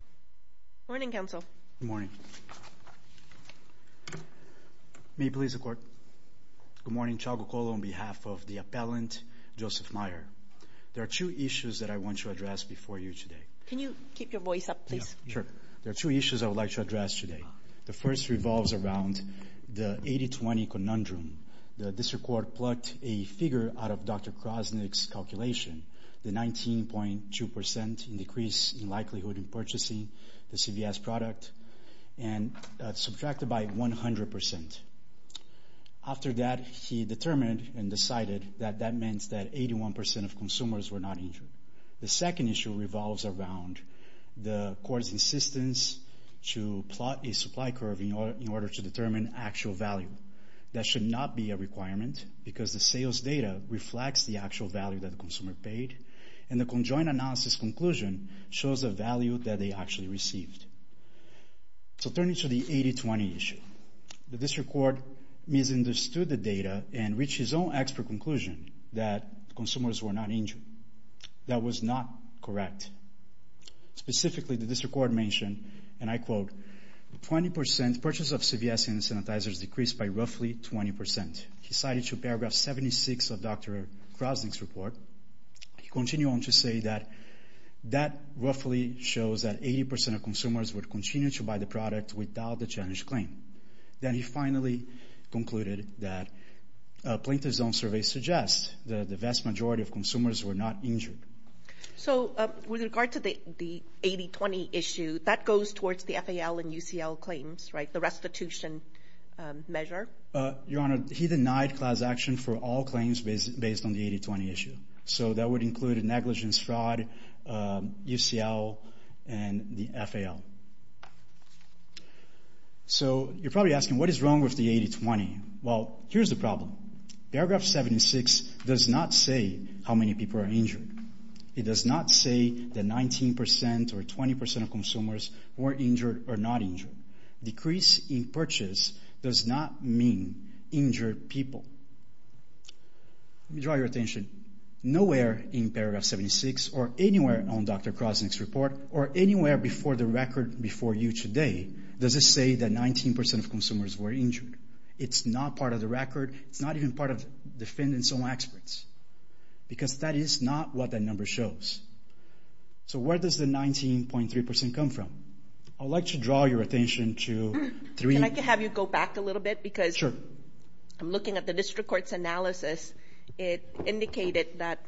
Good morning, counsel. Good morning. May it please the court. Good morning, Chagokolo on behalf of the appellant, Joseph Mier. There are two issues that I want to address before you today. Can you keep your voice up, please? Sure. There are two issues I would like to address today. The first revolves around the 80-20 conundrum. The district court plucked a figure out of Dr. Krasnick's calculation, the 19.2% decrease in likelihood in purchasing the CVS product, and subtracted by 100%. After that, he determined and decided that that meant that 81% of consumers were not injured. The second issue revolves around the court's insistence to plot a supply curve in order to determine actual value. That should not be a requirement because the sales data reflects the actual value that the consumer paid, and the conjoined analysis conclusion shows a value that they actually received. So turning to the 80-20 issue, the district court misunderstood the data and reached his own expert conclusion that consumers were not injured. That was not correct. Specifically, the district court mentioned, and I quote, the 20% purchase of CVS hand sanitizers decreased by roughly 20%. He cited to paragraph 76 of Dr. Krasnick's report. He continued on to say that that roughly shows that 80% of consumers would continue to buy the product without the challenge claim. Then he finally concluded that a plaintiff's own survey suggests that the vast majority of consumers were not injured. So with regard to the 80-20 issue, that goes towards the FAL and UCL claims, right? The restitution measure. Your Honor, he denied class action for all claims based on the 80-20 issue. So that would include a negligence fraud, UCL, and the FAL. So you're probably asking, what is wrong with the 80-20? Well, here's the problem. Paragraph 76 does not say how many people are injured. It does not say that 19% or 20% of consumers were injured or not injured. Decrease in purchase does not mean injured people. Let me draw your attention. Nowhere in paragraph 76 or anywhere on Dr. Krasnick's report or anywhere before the record before you today does it say that 19% of consumers were injured. It's not part of the record. It's not even part of defendants' own experts because that is not what that says. So where does the 19.3% come from? I'd like to draw your attention to three... Can I have you go back a little bit because I'm looking at the district court's analysis. It indicated that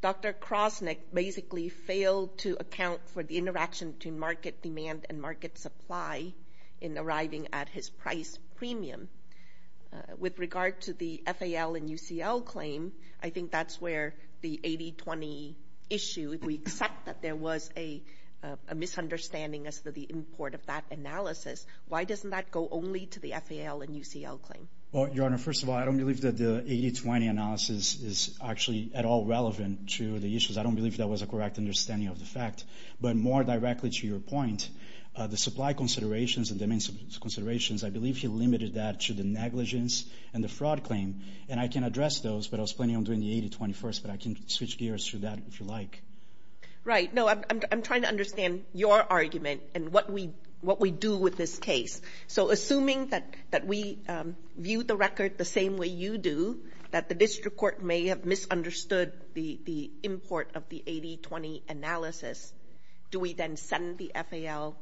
Dr. Krasnick basically failed to account for the interaction between market demand and market supply in arriving at his price premium. With regard to the FAL and UCL claim, I think that's where the 80-20 issue, we accept that there was a misunderstanding as to the import of that analysis. Why doesn't that go only to the FAL and UCL claim? Well, Your Honor, first of all, I don't believe that the 80-20 analysis is actually at all relevant to the issues. I don't believe that was a correct understanding of the fact. But more directly to your point, the supply considerations and the maintenance considerations, I believe he limited that to the negligence and the fraud claim. And I can address those, but I was planning on doing the 80-21st, but I can switch gears through that if you like. Right. No, I'm trying to understand your argument and what we what we do with this case. So assuming that we view the record the same way you do, that the district court may have misunderstood the import of the 80-20 analysis, do we then send the FAL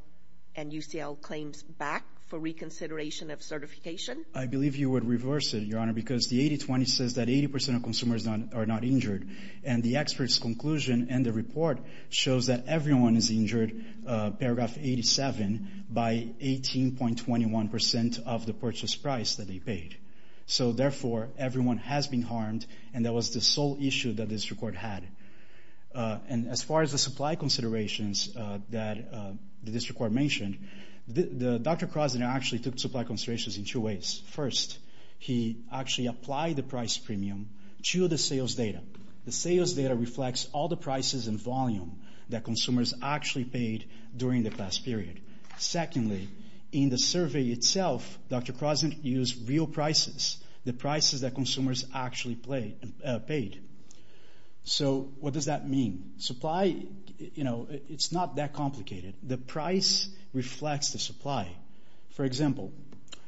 and UCL claims back for reconsideration of certification? I believe you would reverse it, Your Honor, because the 80-20 says that 80% of consumers are not injured. And the expert's conclusion and the report shows that everyone is injured, paragraph 87, by 18.21% of the purchase price that they paid. So therefore, everyone has been harmed, and that was the sole issue that this record had. And as far as the supply considerations that the district court mentioned, Dr. Krasner actually took supply considerations in two ways. First, he actually applied the price premium to the sales data. The sales data reflects all the prices and volume that consumers actually paid during the class period. Secondly, in the survey itself, Dr. Krasner used real prices, the prices that consumers actually paid. So what does that mean? Supply, you know, it's not that complicated. The price reflects the supply. For example,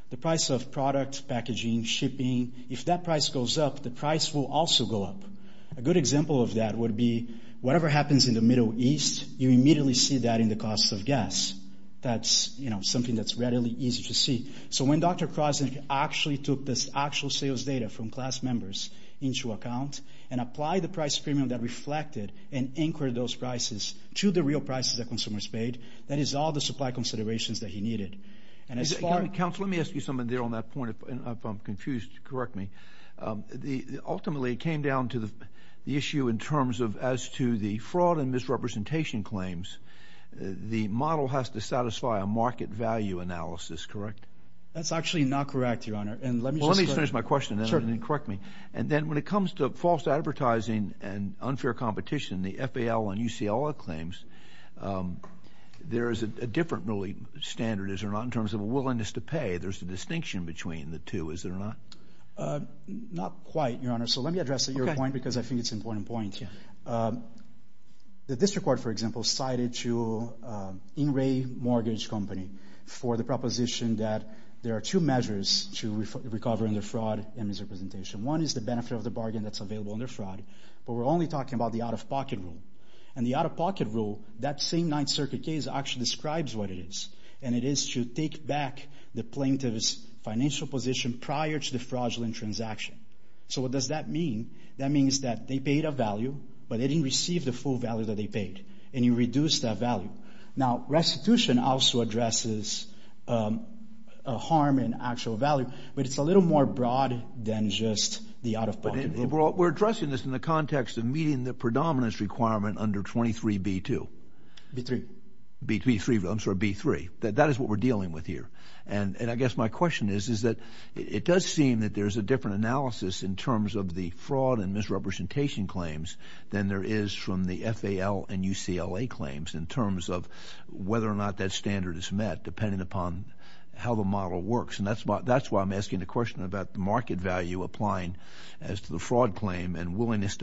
the price of product packaging, shipping, if that price goes up, the price will also go up. A good example of that would be whatever happens in the Middle East, you immediately see that in the cost of gas. That's, you know, something that's readily easy to see. So when Dr. Krasner actually took this actual sales data from class members into account and applied the price premium that reflected and anchored those prices to the real prices that consumers paid, that is all the supply considerations that he needed. And as far... Counselor, let me ask you something there on that point, if I'm confused, correct me. Ultimately, it came down to the issue in terms of, as to the fraud and misrepresentation claims, the model has to satisfy a market value analysis, correct? That's actually not correct, Your Honor, and let me just... Well, let me just finish my question then and then correct me. And then when it comes to false advertising and unfair competition, the FAL and UCLA claims, there is a different really standard, is it or not? Not quite, Your Honor. So let me address your point because I think it's an important point. The district court, for example, cited to In-Ray Mortgage Company for the proposition that there are two measures to recover under fraud and misrepresentation. One is the benefit of the bargain that's available under fraud, but we're only talking about the out-of-pocket rule. And the out-of-pocket rule, that same Ninth Circuit case actually describes what it is to take back the plaintiff's financial position prior to the fraudulent transaction. So what does that mean? That means that they paid a value, but they didn't receive the full value that they paid, and you reduce that value. Now, restitution also addresses a harm in actual value, but it's a little more broad than just the out-of-pocket rule. We're addressing this in the context of predominance requirement under 23B2. B3. B3, I'm sorry, B3. That is what we're dealing with here. And I guess my question is, is that it does seem that there's a different analysis in terms of the fraud and misrepresentation claims than there is from the FAL and UCLA claims in terms of whether or not that standard is met, depending upon how the model works. And that's why I'm asking the question about the market value applying as to the fraud claim and as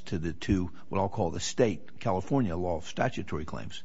to the two, what I'll call the state California law of statutory claims.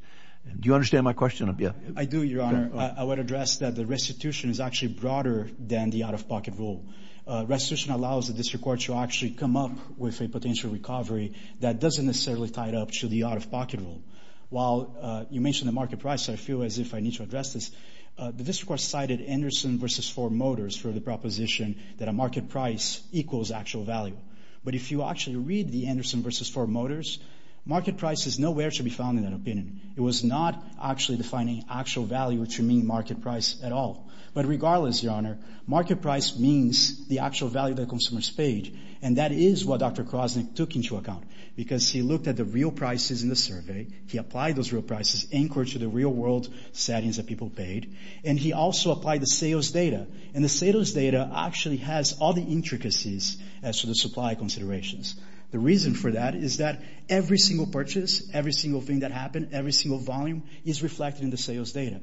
Do you understand my question? Yeah. I do, Your Honor. I would address that the restitution is actually broader than the out-of-pocket rule. Restitution allows the district court to actually come up with a potential recovery that doesn't necessarily tie it up to the out-of-pocket rule. While you mentioned the market price, I feel as if I need to address this. The district court cited Anderson v. Ford Motors for the proposition that a market price equals actual value. But if you actually read the Anderson v. Ford Motors, market price is nowhere to be found in that opinion. It was not actually defining actual value to mean market price at all. But regardless, Your Honor, market price means the actual value that consumers paid, and that is what Dr. Krosnick took into account. Because he looked at the real prices in the survey, he applied those real prices, anchored to the real-world settings that people paid, and he also applied the sales data. And the sales data actually has all the intricacies as to the supply considerations. The reason for that is that every single purchase, every single thing that happened, every single volume is reflected in the sales data.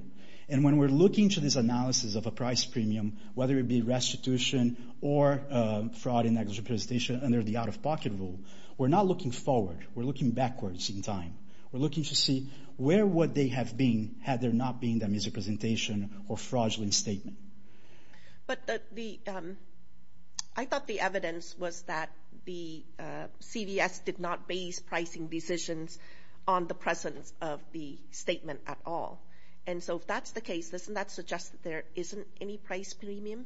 And when we're looking to this analysis of a price premium, whether it be restitution or fraud in that representation under the out-of-pocket rule, we're not looking forward. We're looking backwards in time. We're looking to see where would they have been had there not been that misrepresentation or fraudulent statement. But I thought the evidence was that the CVS did not base pricing decisions on the presence of the statement at all. And so if that's the case, doesn't that suggest that there isn't any price premium?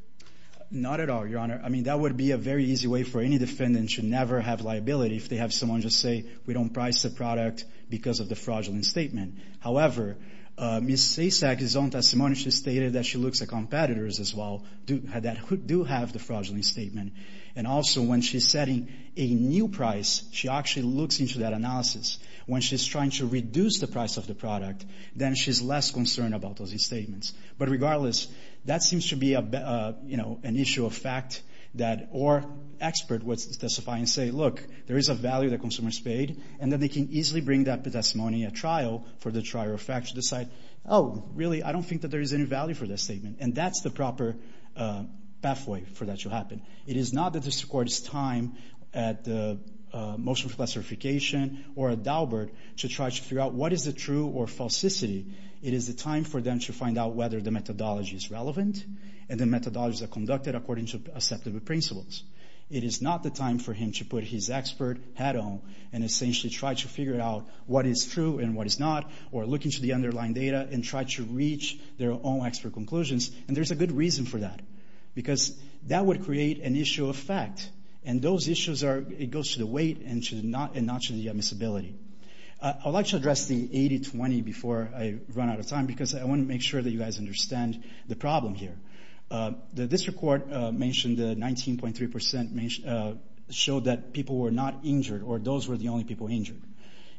Not at all, Your Honor. I mean, that would be a very easy way for any defendant to never have liability if they have someone just say, we don't price the product because of the fraudulent statement. However, Ms. Sasek's own testimony, she stated that she looks at competitors as well that do have the fraudulent statement. And also, when she's setting a new price, she actually looks into that analysis. When she's trying to reduce the price of the product, then she's less concerned about those statements. But regardless, that seems to be an issue of fact that or expert would specify and say, look, there is a value that consumers paid and that they can easily bring that testimony at trial for the trial of fact to decide, oh, really, I don't think that there is any value for this statement. And that's the proper pathway for that to happen. It is not that this court's time at the motion for classification or at Daubert to try to figure out what is the true or falsicity. It is the time for them to find out whether the methodology is relevant and the methodologies are conducted according to acceptable principles. It is not the time for him to put his expert hat on and essentially try to figure out what is true and what is not, or look into the underlying data and try to reach their own expert conclusions. And there's a good reason for that, because that would create an issue of fact. And those issues are, it goes to the weight and not to the admissibility. I'd like to address the 80-20 before I run out of time, because I want to make sure that you guys understand the problem here. The district court mentioned the 19.3% showed that people were not injured or those were the only people injured.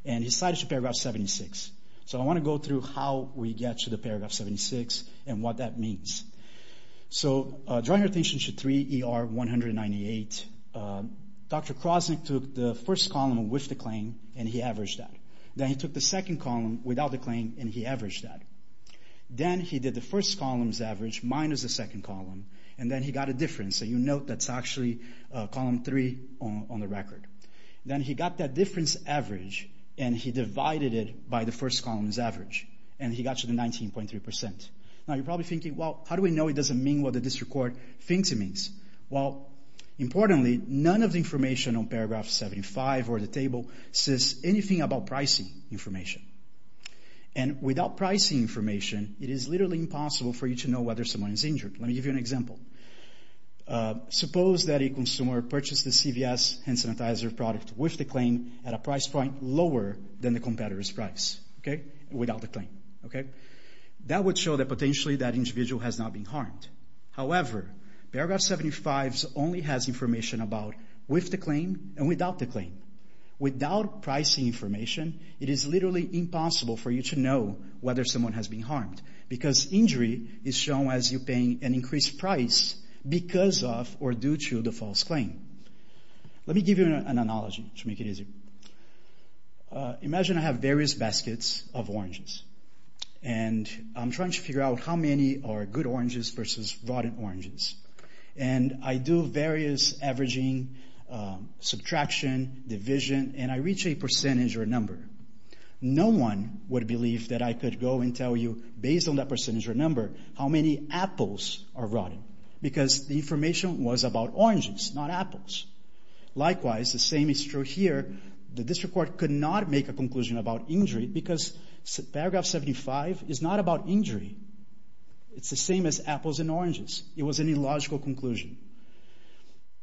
And he cited to paragraph 76. So I want to go through how we get to the paragraph 76 and what that means. So draw your attention to 3 ER 198. Dr. Krosnick took the first column with the claim and he averaged that. Then he took the second column without the claim and he averaged that. Then he did the first column's average minus the second column, and then he got a difference. So you see column three on the record. Then he got that difference average and he divided it by the first column's average, and he got to the 19.3%. Now you're probably thinking, well, how do we know it doesn't mean what the district court thinks it means? Well, importantly, none of the information on paragraph 75 or the table says anything about pricing information. And without pricing information, it is literally impossible for you to know whether someone is harmed. For example, suppose that a consumer purchased the CVS hand sanitizer product with the claim at a price point lower than the competitor's price, without the claim. That would show that potentially that individual has not been harmed. However, paragraph 75 only has information about with the claim and without the claim. Without pricing information, it is literally impossible for you to know whether someone has been harmed because injury is shown as you increase price because of or due to the false claim. Let me give you an analogy to make it easier. Imagine I have various baskets of oranges, and I'm trying to figure out how many are good oranges versus rotten oranges. And I do various averaging, subtraction, division, and I reach a percentage or a number. No one would believe that I could go and tell you, based on that percentage or number, how many apples are rotten. Because the information was about oranges, not apples. Likewise, the same is true here. The district court could not make a conclusion about injury because paragraph 75 is not about injury. It's the same as apples and oranges. It was an illogical conclusion.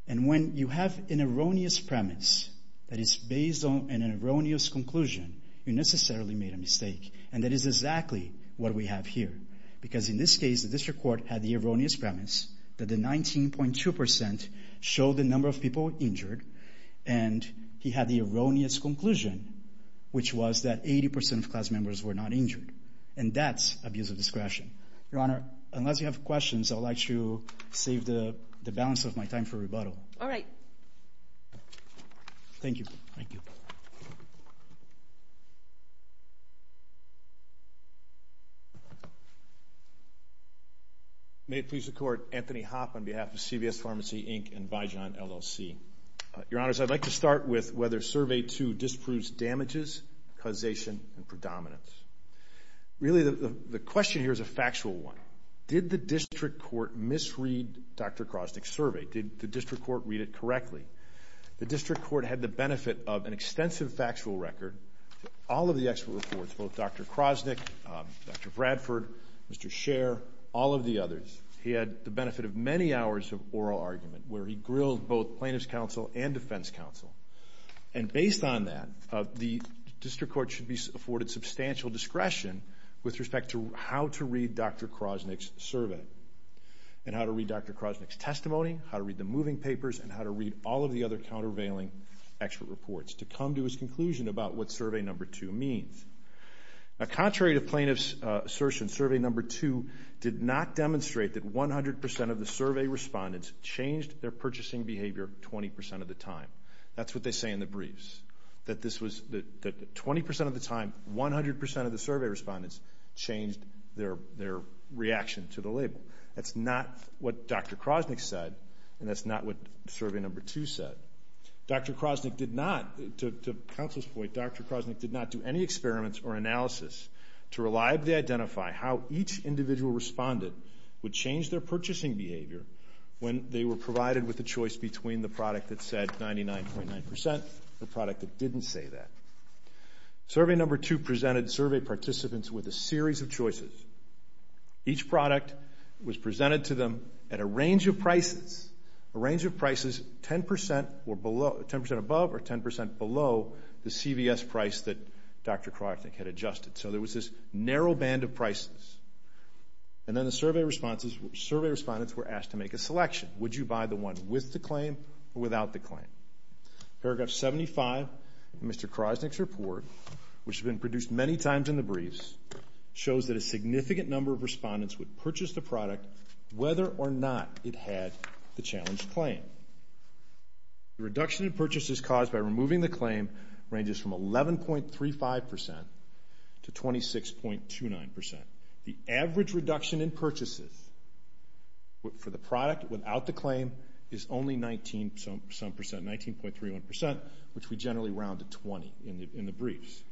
And when you have an erroneous premise that is based on an erroneous conclusion, you necessarily made a mistake. And that is exactly what we have here. Because in this case, the district court had the erroneous premise that the 19.2% showed the number of people injured, and he had the erroneous conclusion, which was that 80% of class members were not injured. And that's abuse of discretion. Your Honor, unless you have questions, I'd like to save the balance of my time for rebuttal. All right. Thank you. May it please the Court, Anthony Hoppe on behalf of CVS Pharmacy, Inc. and Vijon, LLC. Your Honors, I'd like to start with whether Survey 2 disproves damages, causation, and predominance. Really, the question here is a factual one. Did the district court misread Dr. Krosnick's survey? Did the district court read it correctly? The district court had the benefit of an extensive factual record, all of the expert reports, both Dr. Krosnick, Dr. Bradford, Mr. Scher, all of the others. He had the benefit of many hours of oral argument, where he grilled both plaintiffs' counsel and defense counsel. And based on that, the district court should be afforded substantial discretion with respect to how to read Dr. Krosnick's survey, and how to read Dr. Krosnick's testimony, how to read the moving papers, and how to read all of the other countervailing expert reports. To come to his conclusion about what Survey 2 means. Now, contrary to plaintiffs' assertion, Survey 2 did not demonstrate that 100% of the survey respondents changed their purchasing behavior 20% of the time. That's what they say in the briefs, that 20% of the time, 100% of the survey respondents changed their reaction to the label. That's not what Dr. Krosnick said, and that's not what Survey 2 said. Dr. Krosnick did not, to counsel's point, Dr. Krosnick did not do any experiments or analysis to reliably identify how each individual respondent would change their purchasing behavior when they were provided with a choice between the product that said 99.9%, the product that didn't say that. Survey Number 2 presented survey participants with a series of choices. Each product was presented to them at a range of prices. A range of prices 10% or below, 10% above or 10% below the CVS price that Dr. Krosnick had adjusted. So there was this narrow band of prices. And then the survey responses, survey respondents were asked to make a selection. Would you buy the one with the claim or without the claim? Paragraph 75 of Mr. Krosnick's report, which has been produced many times in the briefs, shows that a significant number of respondents would purchase the product whether or not it had the challenge claim. The reduction in purchases caused by removing the claim ranges from 11.35% to 26.29%. The average reduction in purchases for the product without the claim is only 19 some percent, 19.31%, which we generally round to 20 in the briefs.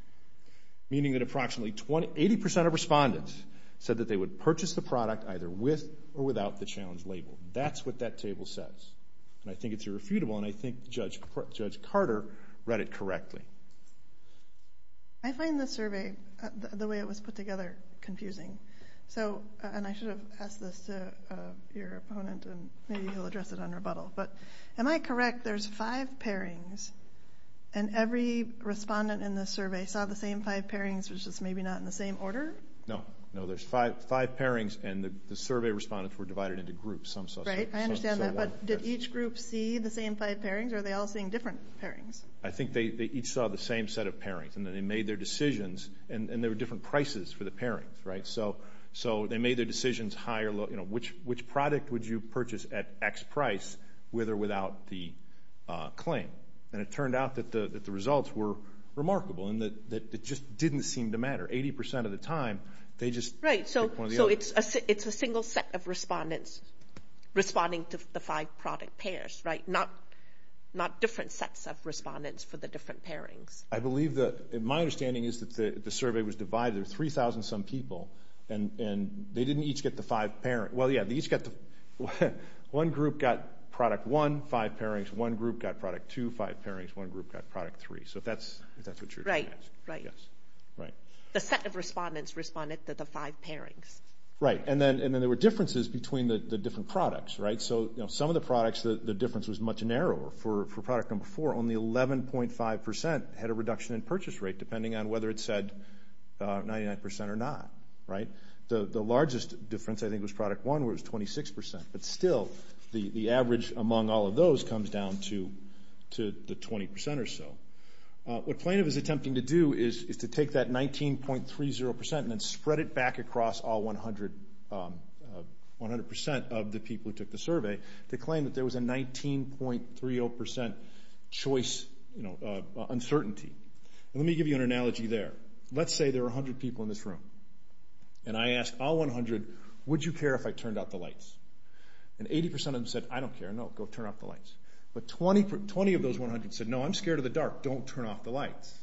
Meaning that approximately 80% of respondents said that they would purchase the product either with or without the challenge label. That's what that table says. And I think it's irrefutable and I think Judge Carter read it correctly. I find the survey, the way it was put together, confusing. So, and I should have asked this to your opponent and maybe he'll address it on rebuttal. But am I correct, there's five pairings and every respondent in this survey saw the same five pairings, which is maybe not in the same order? No, no. There's five pairings and the survey respondents were some suspects. Right, I understand that. But did each group see the same five pairings or are they all seeing different pairings? I think they each saw the same set of pairings and then they made their decisions and there were different prices for the pairings, right? So they made their decisions high or low, you know, which product would you purchase at X price with or without the claim? And it turned out that the results were remarkable and that it just didn't seem to matter. 80% of the time, they just picked one of the others. Right, so it's a single set of respondents responding to the five product pairs, right? Not different sets of respondents for the different pairings. I believe that, my understanding is that the survey was divided. There were 3,000 some people and they didn't each get the five pairings. Well, yeah, they each got the, one group got product one, five pairings. One group got product two, five pairings. One group got product three. So if that's what you're trying to ask. Right, right. The set of respondents responded to the five pairings. Right, and then there were differences between the different products, right? So, you know, some of the products, the difference was much narrower. For product number four, only 11.5% had a reduction in purchase rate, depending on whether it said 99% or not, right? The largest difference, I think, was product one, where it was 26%. But still, the average among all of those comes down to the 20% or so. What do you do? You take that 19.30% and then spread it back across all 100%, 100% of the people who took the survey to claim that there was a 19.30% choice, you know, uncertainty. And let me give you an analogy there. Let's say there are 100 people in this room. And I asked all 100, would you care if I turned out the lights? And 80% of them said, I don't care, no, go turn off the lights. But 20, 20 of those 100 said, no, I'm scared of the dark, don't turn off the lights.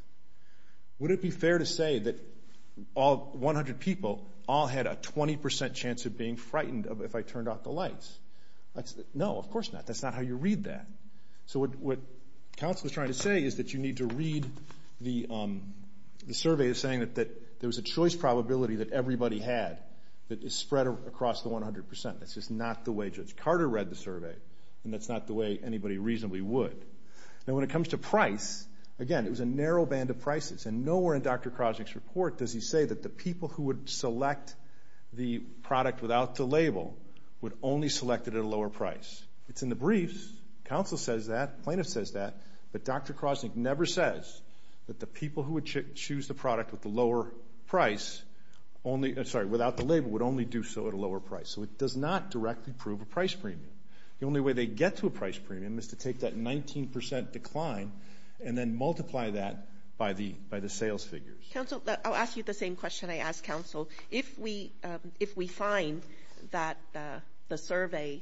Would it be fair to say that all 100 people all had a 20% chance of being frightened if I turned off the lights? No, of course not. That's not how you read that. So what counsel is trying to say is that you need to read the survey as saying that there was a choice probability that everybody had that is spread across the 100%. That's just not the way Judge Carter read the survey. And that's not the way anybody reasonably would. Now, when it comes to lower band of prices, and nowhere in Dr. Krosnick's report does he say that the people who would select the product without the label would only select it at a lower price. It's in the briefs. Counsel says that. Plaintiff says that. But Dr. Krosnick never says that the people who would choose the product with the lower price only... Sorry, without the label would only do so at a lower price. So it does not directly prove a price premium. The only way they get to take that 19% decline and then multiply that by the sales figures. Counsel, I'll ask you the same question I asked counsel. If we find that the survey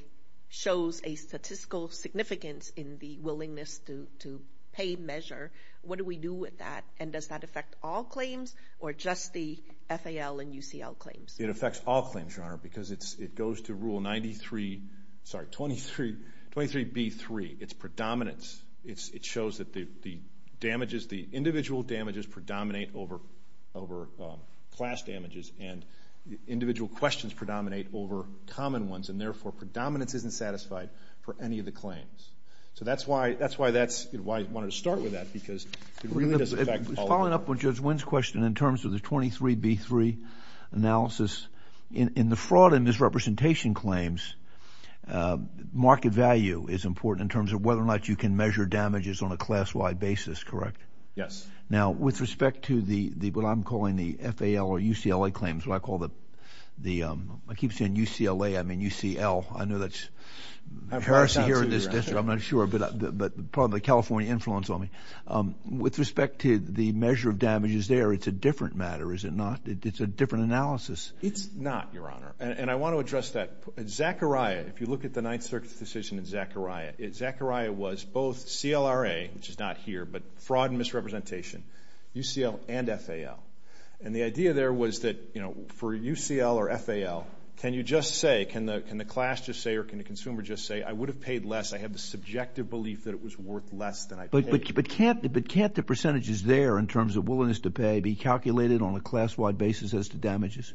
shows a statistical significance in the willingness to pay measure, what do we do with that? And does that affect all claims or just the FAL and UCL claims? It affects all claims, Your Honor, because it goes to Rule 93... Sorry, 23B3. It's predominance. It shows that the damages, the individual damages predominate over class damages and individual questions predominate over common ones. And therefore, predominance isn't satisfied for any of the claims. So that's why I wanted to start with that, because it really does affect all... Following up on Judge Wynn's question in terms of the 23B3 analysis, in the fraud and misrepresentation claims, market value is important in terms of whether or not you can measure damages on a class-wide basis, correct? Yes. Now, with respect to what I'm calling the FAL or UCLA claims, what I call the... I keep saying UCLA, I mean UCL. I know that's a heresy here in this district. I'm not sure, but probably the California influence on me. With respect to the measure of damages there, it's a different matter, is it not? It's a different analysis. It's not, Your Honor. And I want to address that. Zachariah, if you look at the Ninth Circuit's decision in Zachariah, Zachariah was both CLRA, which is not here, but fraud and misrepresentation, UCL and FAL. And the idea there was that, you know, for UCL or FAL, can you just say, can the class just say, or can the subjective belief that it was worth less than I paid? But can't the percentages there in terms of willingness to pay be calculated on a class-wide basis as to damages?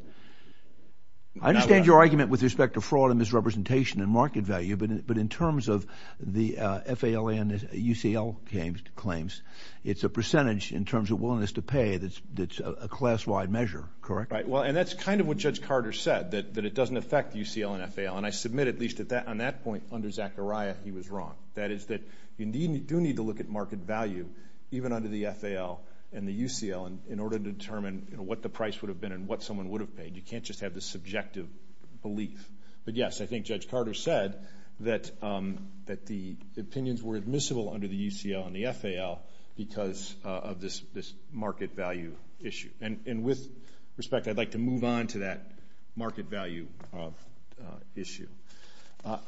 I understand your argument with respect to fraud and misrepresentation and market value, but in terms of the FAL and UCL claims, it's a percentage in terms of willingness to pay that's a class-wide measure, correct? Right. Well, and that's kind of what Judge Carter said, that it doesn't affect UCL and FAL. And I submit, at least on that point under Zachariah, he was wrong. That is that, you do need to look at market value, even under the FAL and the UCL, in order to determine what the price would have been and what someone would have paid. You can't just have the subjective belief. But yes, I think Judge Carter said that the opinions were admissible under the UCL and the FAL because of this market value issue. And with respect, I'd like to move on to that market value issue.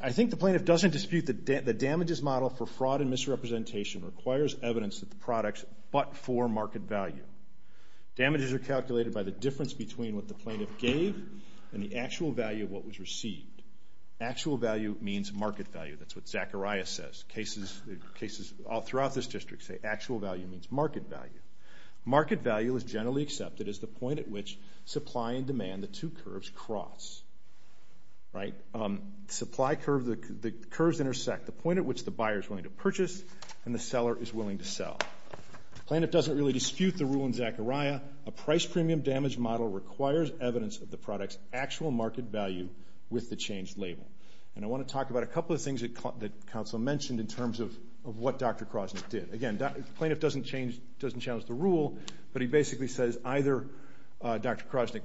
I think the plaintiff doesn't dispute that the damages model for fraud and misrepresentation requires evidence of the products but for market value. Damages are calculated by the difference between what the plaintiff gave and the actual value of what was received. Actual value means market value. That's what Zachariah says. Cases all throughout this district say actual value means market value. Market value is generally accepted as the point at which supply and demand, the two curves, cross. Right? Supply curves, the curves intersect. The point at which the buyer is willing to purchase and the seller is willing to sell. The plaintiff doesn't really dispute the rule in Zachariah. A price premium damage model requires evidence of the product's actual market value with the changed label. And I want to talk about a couple of things that counsel mentioned in terms of what Dr. Crosnick did. Again, the plaintiff doesn't change, doesn't challenge the notion that either Dr. Crosnick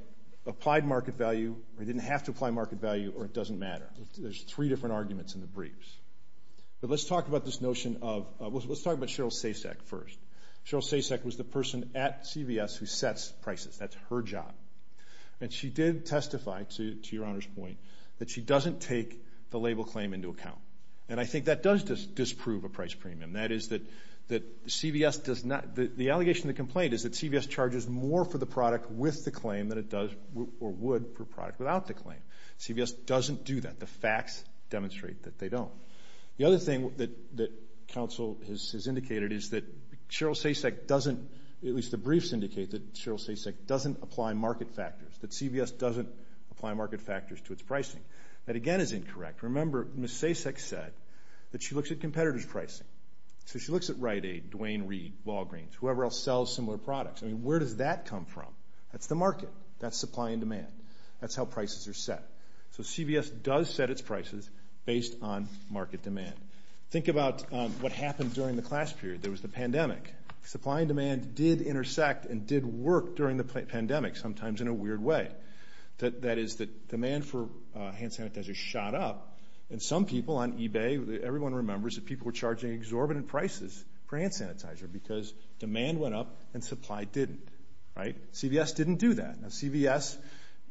applied market value or he didn't have to apply market value or it doesn't matter. There's three different arguments in the briefs. But let's talk about this notion of, let's talk about Cheryl Sasek first. Cheryl Sasek was the person at CVS who sets prices. That's her job. And she did testify, to your Honor's point, that she doesn't take the label claim into account. And I think that does disprove a price premium. That is that CVS does not, the allegation of the complaint is that CVS charges more for the product with the claim than it does or would for a product without the claim. CVS doesn't do that. The facts demonstrate that they don't. The other thing that counsel has indicated is that Cheryl Sasek doesn't, at least the briefs indicate that Cheryl Sasek doesn't apply market factors, that CVS doesn't apply market factors to its pricing. That again is incorrect. Remember, Ms. Sasek said that she looks at competitors' pricing. So she looks at Dwayne Reed, Walgreens, whoever else sells similar products. I mean, where does that come from? That's the market. That's supply and demand. That's how prices are set. So CVS does set its prices based on market demand. Think about what happened during the class period. There was the pandemic. Supply and demand did intersect and did work during the pandemic, sometimes in a weird way. That is that demand for hand sanitizer shot up. And some people on eBay, everyone remembers, that people were charging exorbitant prices for hand sanitizer because demand went up and supply didn't. CVS didn't do that. CVS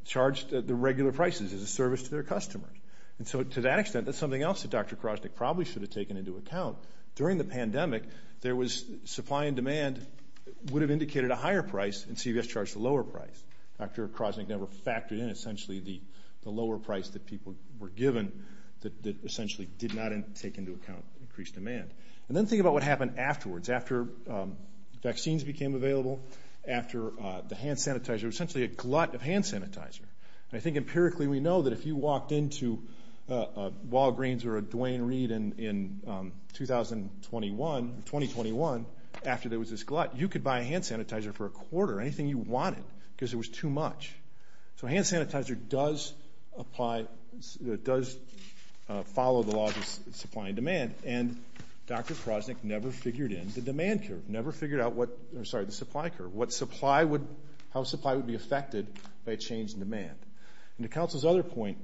charged the regular prices as a service to their customers. And so to that extent, that's something else that Dr. Krasnick probably should have taken into account. During the pandemic, supply and demand would have indicated a higher price, and CVS charged a lower price. Dr. Krasnick never factored in essentially the lower price that people were given that essentially did not take into account increased demand. And then think about what happened afterwards. After vaccines became available, after the hand sanitizer, essentially a glut of hand sanitizer. I think empirically we know that if you walked into Walgreens or a Duane Reade in 2021, after there was this glut, you could buy a hand sanitizer for a quarter, anything you wanted, because it was too much. So hand sanitizer does apply, does follow the laws of supply and demand. And Dr. Krasnick never figured in the demand curve, never figured out what, I'm sorry, the supply curve, what supply would, how supply would be affected by a change in demand. And to counsel's other point,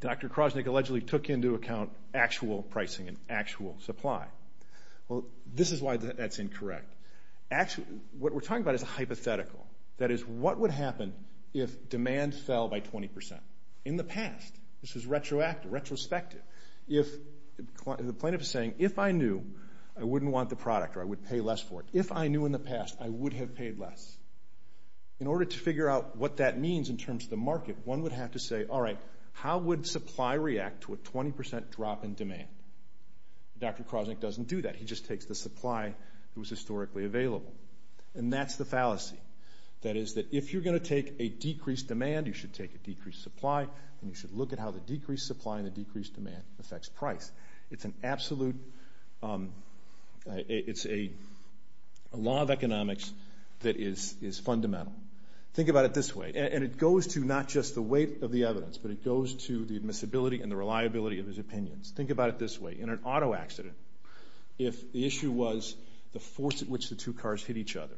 Dr. Krasnick allegedly took into account actual pricing and actual supply. Well, this is why that's incorrect. Actually, what we're talking about is a what would happen if demand fell by 20%? In the past, this was retroactive, retrospective. If, the plaintiff is saying, if I knew, I wouldn't want the product or I would pay less for it. If I knew in the past, I would have paid less. In order to figure out what that means in terms of the market, one would have to say, all right, how would supply react to a 20% drop in demand? Dr. Krasnick doesn't do that. He just takes the supply that was historically available. And that's the fallacy. That is that if you're going to take a decreased demand, you should take a decreased supply, and you should look at how the decreased supply and the decreased demand affects price. It's an absolute, it's a law of economics that is fundamental. Think about it this way. And it goes to not just the weight of the evidence, but it goes to the admissibility and the reliability of his opinions. Think about it this way. In an accident, two cars hit each other.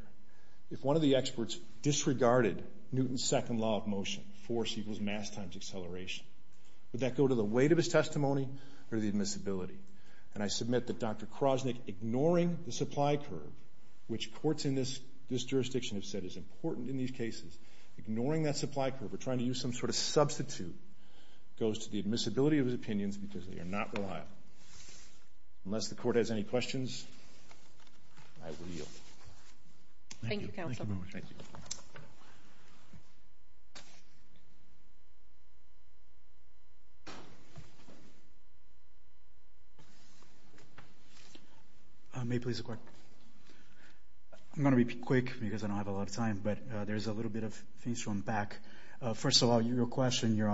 If one of the experts disregarded Newton's second law of motion, force equals mass times acceleration, would that go to the weight of his testimony or the admissibility? And I submit that Dr. Krasnick ignoring the supply curve, which courts in this jurisdiction have said is important in these cases, ignoring that supply curve or trying to use some sort of substitute, goes to the admissibility of his opinions because they are not reliable. Unless the court has any questions, I will yield. Thank you, Counselor. May I please have a question? I'm going to be quick because I don't have a lot of time, but there's a little bit of things to unpack. First of all, your question, Your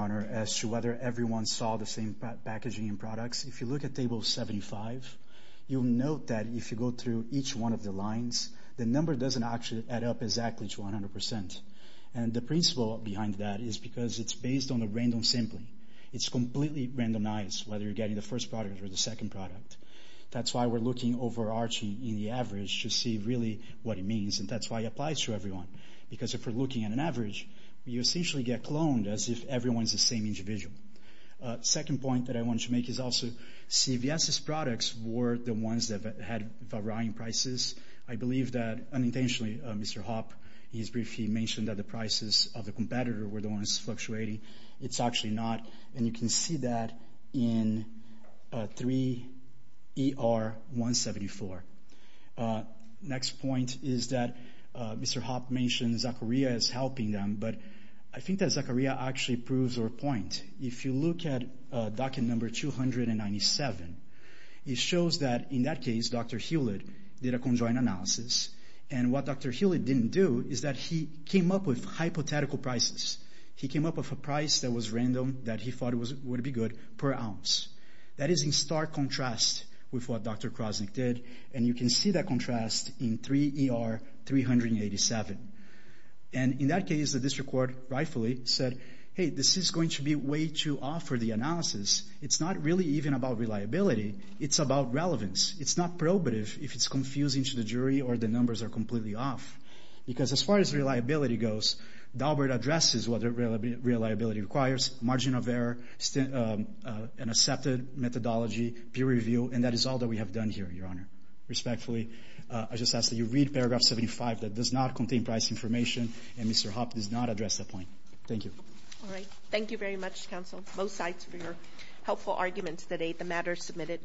packaging and products. If you look at table 75, you'll note that if you go through each one of the lines, the number doesn't actually add up exactly to 100%. And the principle behind that is because it's based on a random sampling. It's completely randomized, whether you're getting the first product or the second product. That's why we're looking overarching in the average to see really what it means, and that's why it applies to everyone. Because if we're looking at an average, you essentially get cloned as if everyone's the same individual. Second point that I want to make is also CVS's products were the ones that had varying prices. I believe that, unintentionally, Mr. Hopp, he briefly mentioned that the prices of the competitor were the ones fluctuating. It's actually not, and you can see that in 3ER174. Next point is that Mr. Hopp mentioned Zacharia is helping them, but I think that Zacharia actually proves her point. If you look at document number 297, it shows that, in that case, Dr. Hewlett did a conjoined analysis. And what Dr. Hewlett didn't do is that he came up with hypothetical prices. He came up with a price that was random, that he thought would be good per ounce. That is in stark contrast with what Dr. Krosnick did, and you can see that contrast in 3ER387. And in that case, the district court rightfully said, hey, this is going to be way too off for the analysis. It's not really even about reliability. It's about relevance. It's not probative if it's confusing to the jury or the numbers are completely off. Because as far as reliability goes, Daubert addresses what reliability requires, margin of error, an accepted methodology, peer review, and that is all that we have done here, Your Honor. Respectfully, I just ask that you read paragraph 75. That does not contain price information, and Mr. Hopp does not address that point. Thank you. All right. Thank you very much, counsel, both sides, for your helpful arguments today. The matter is submitted.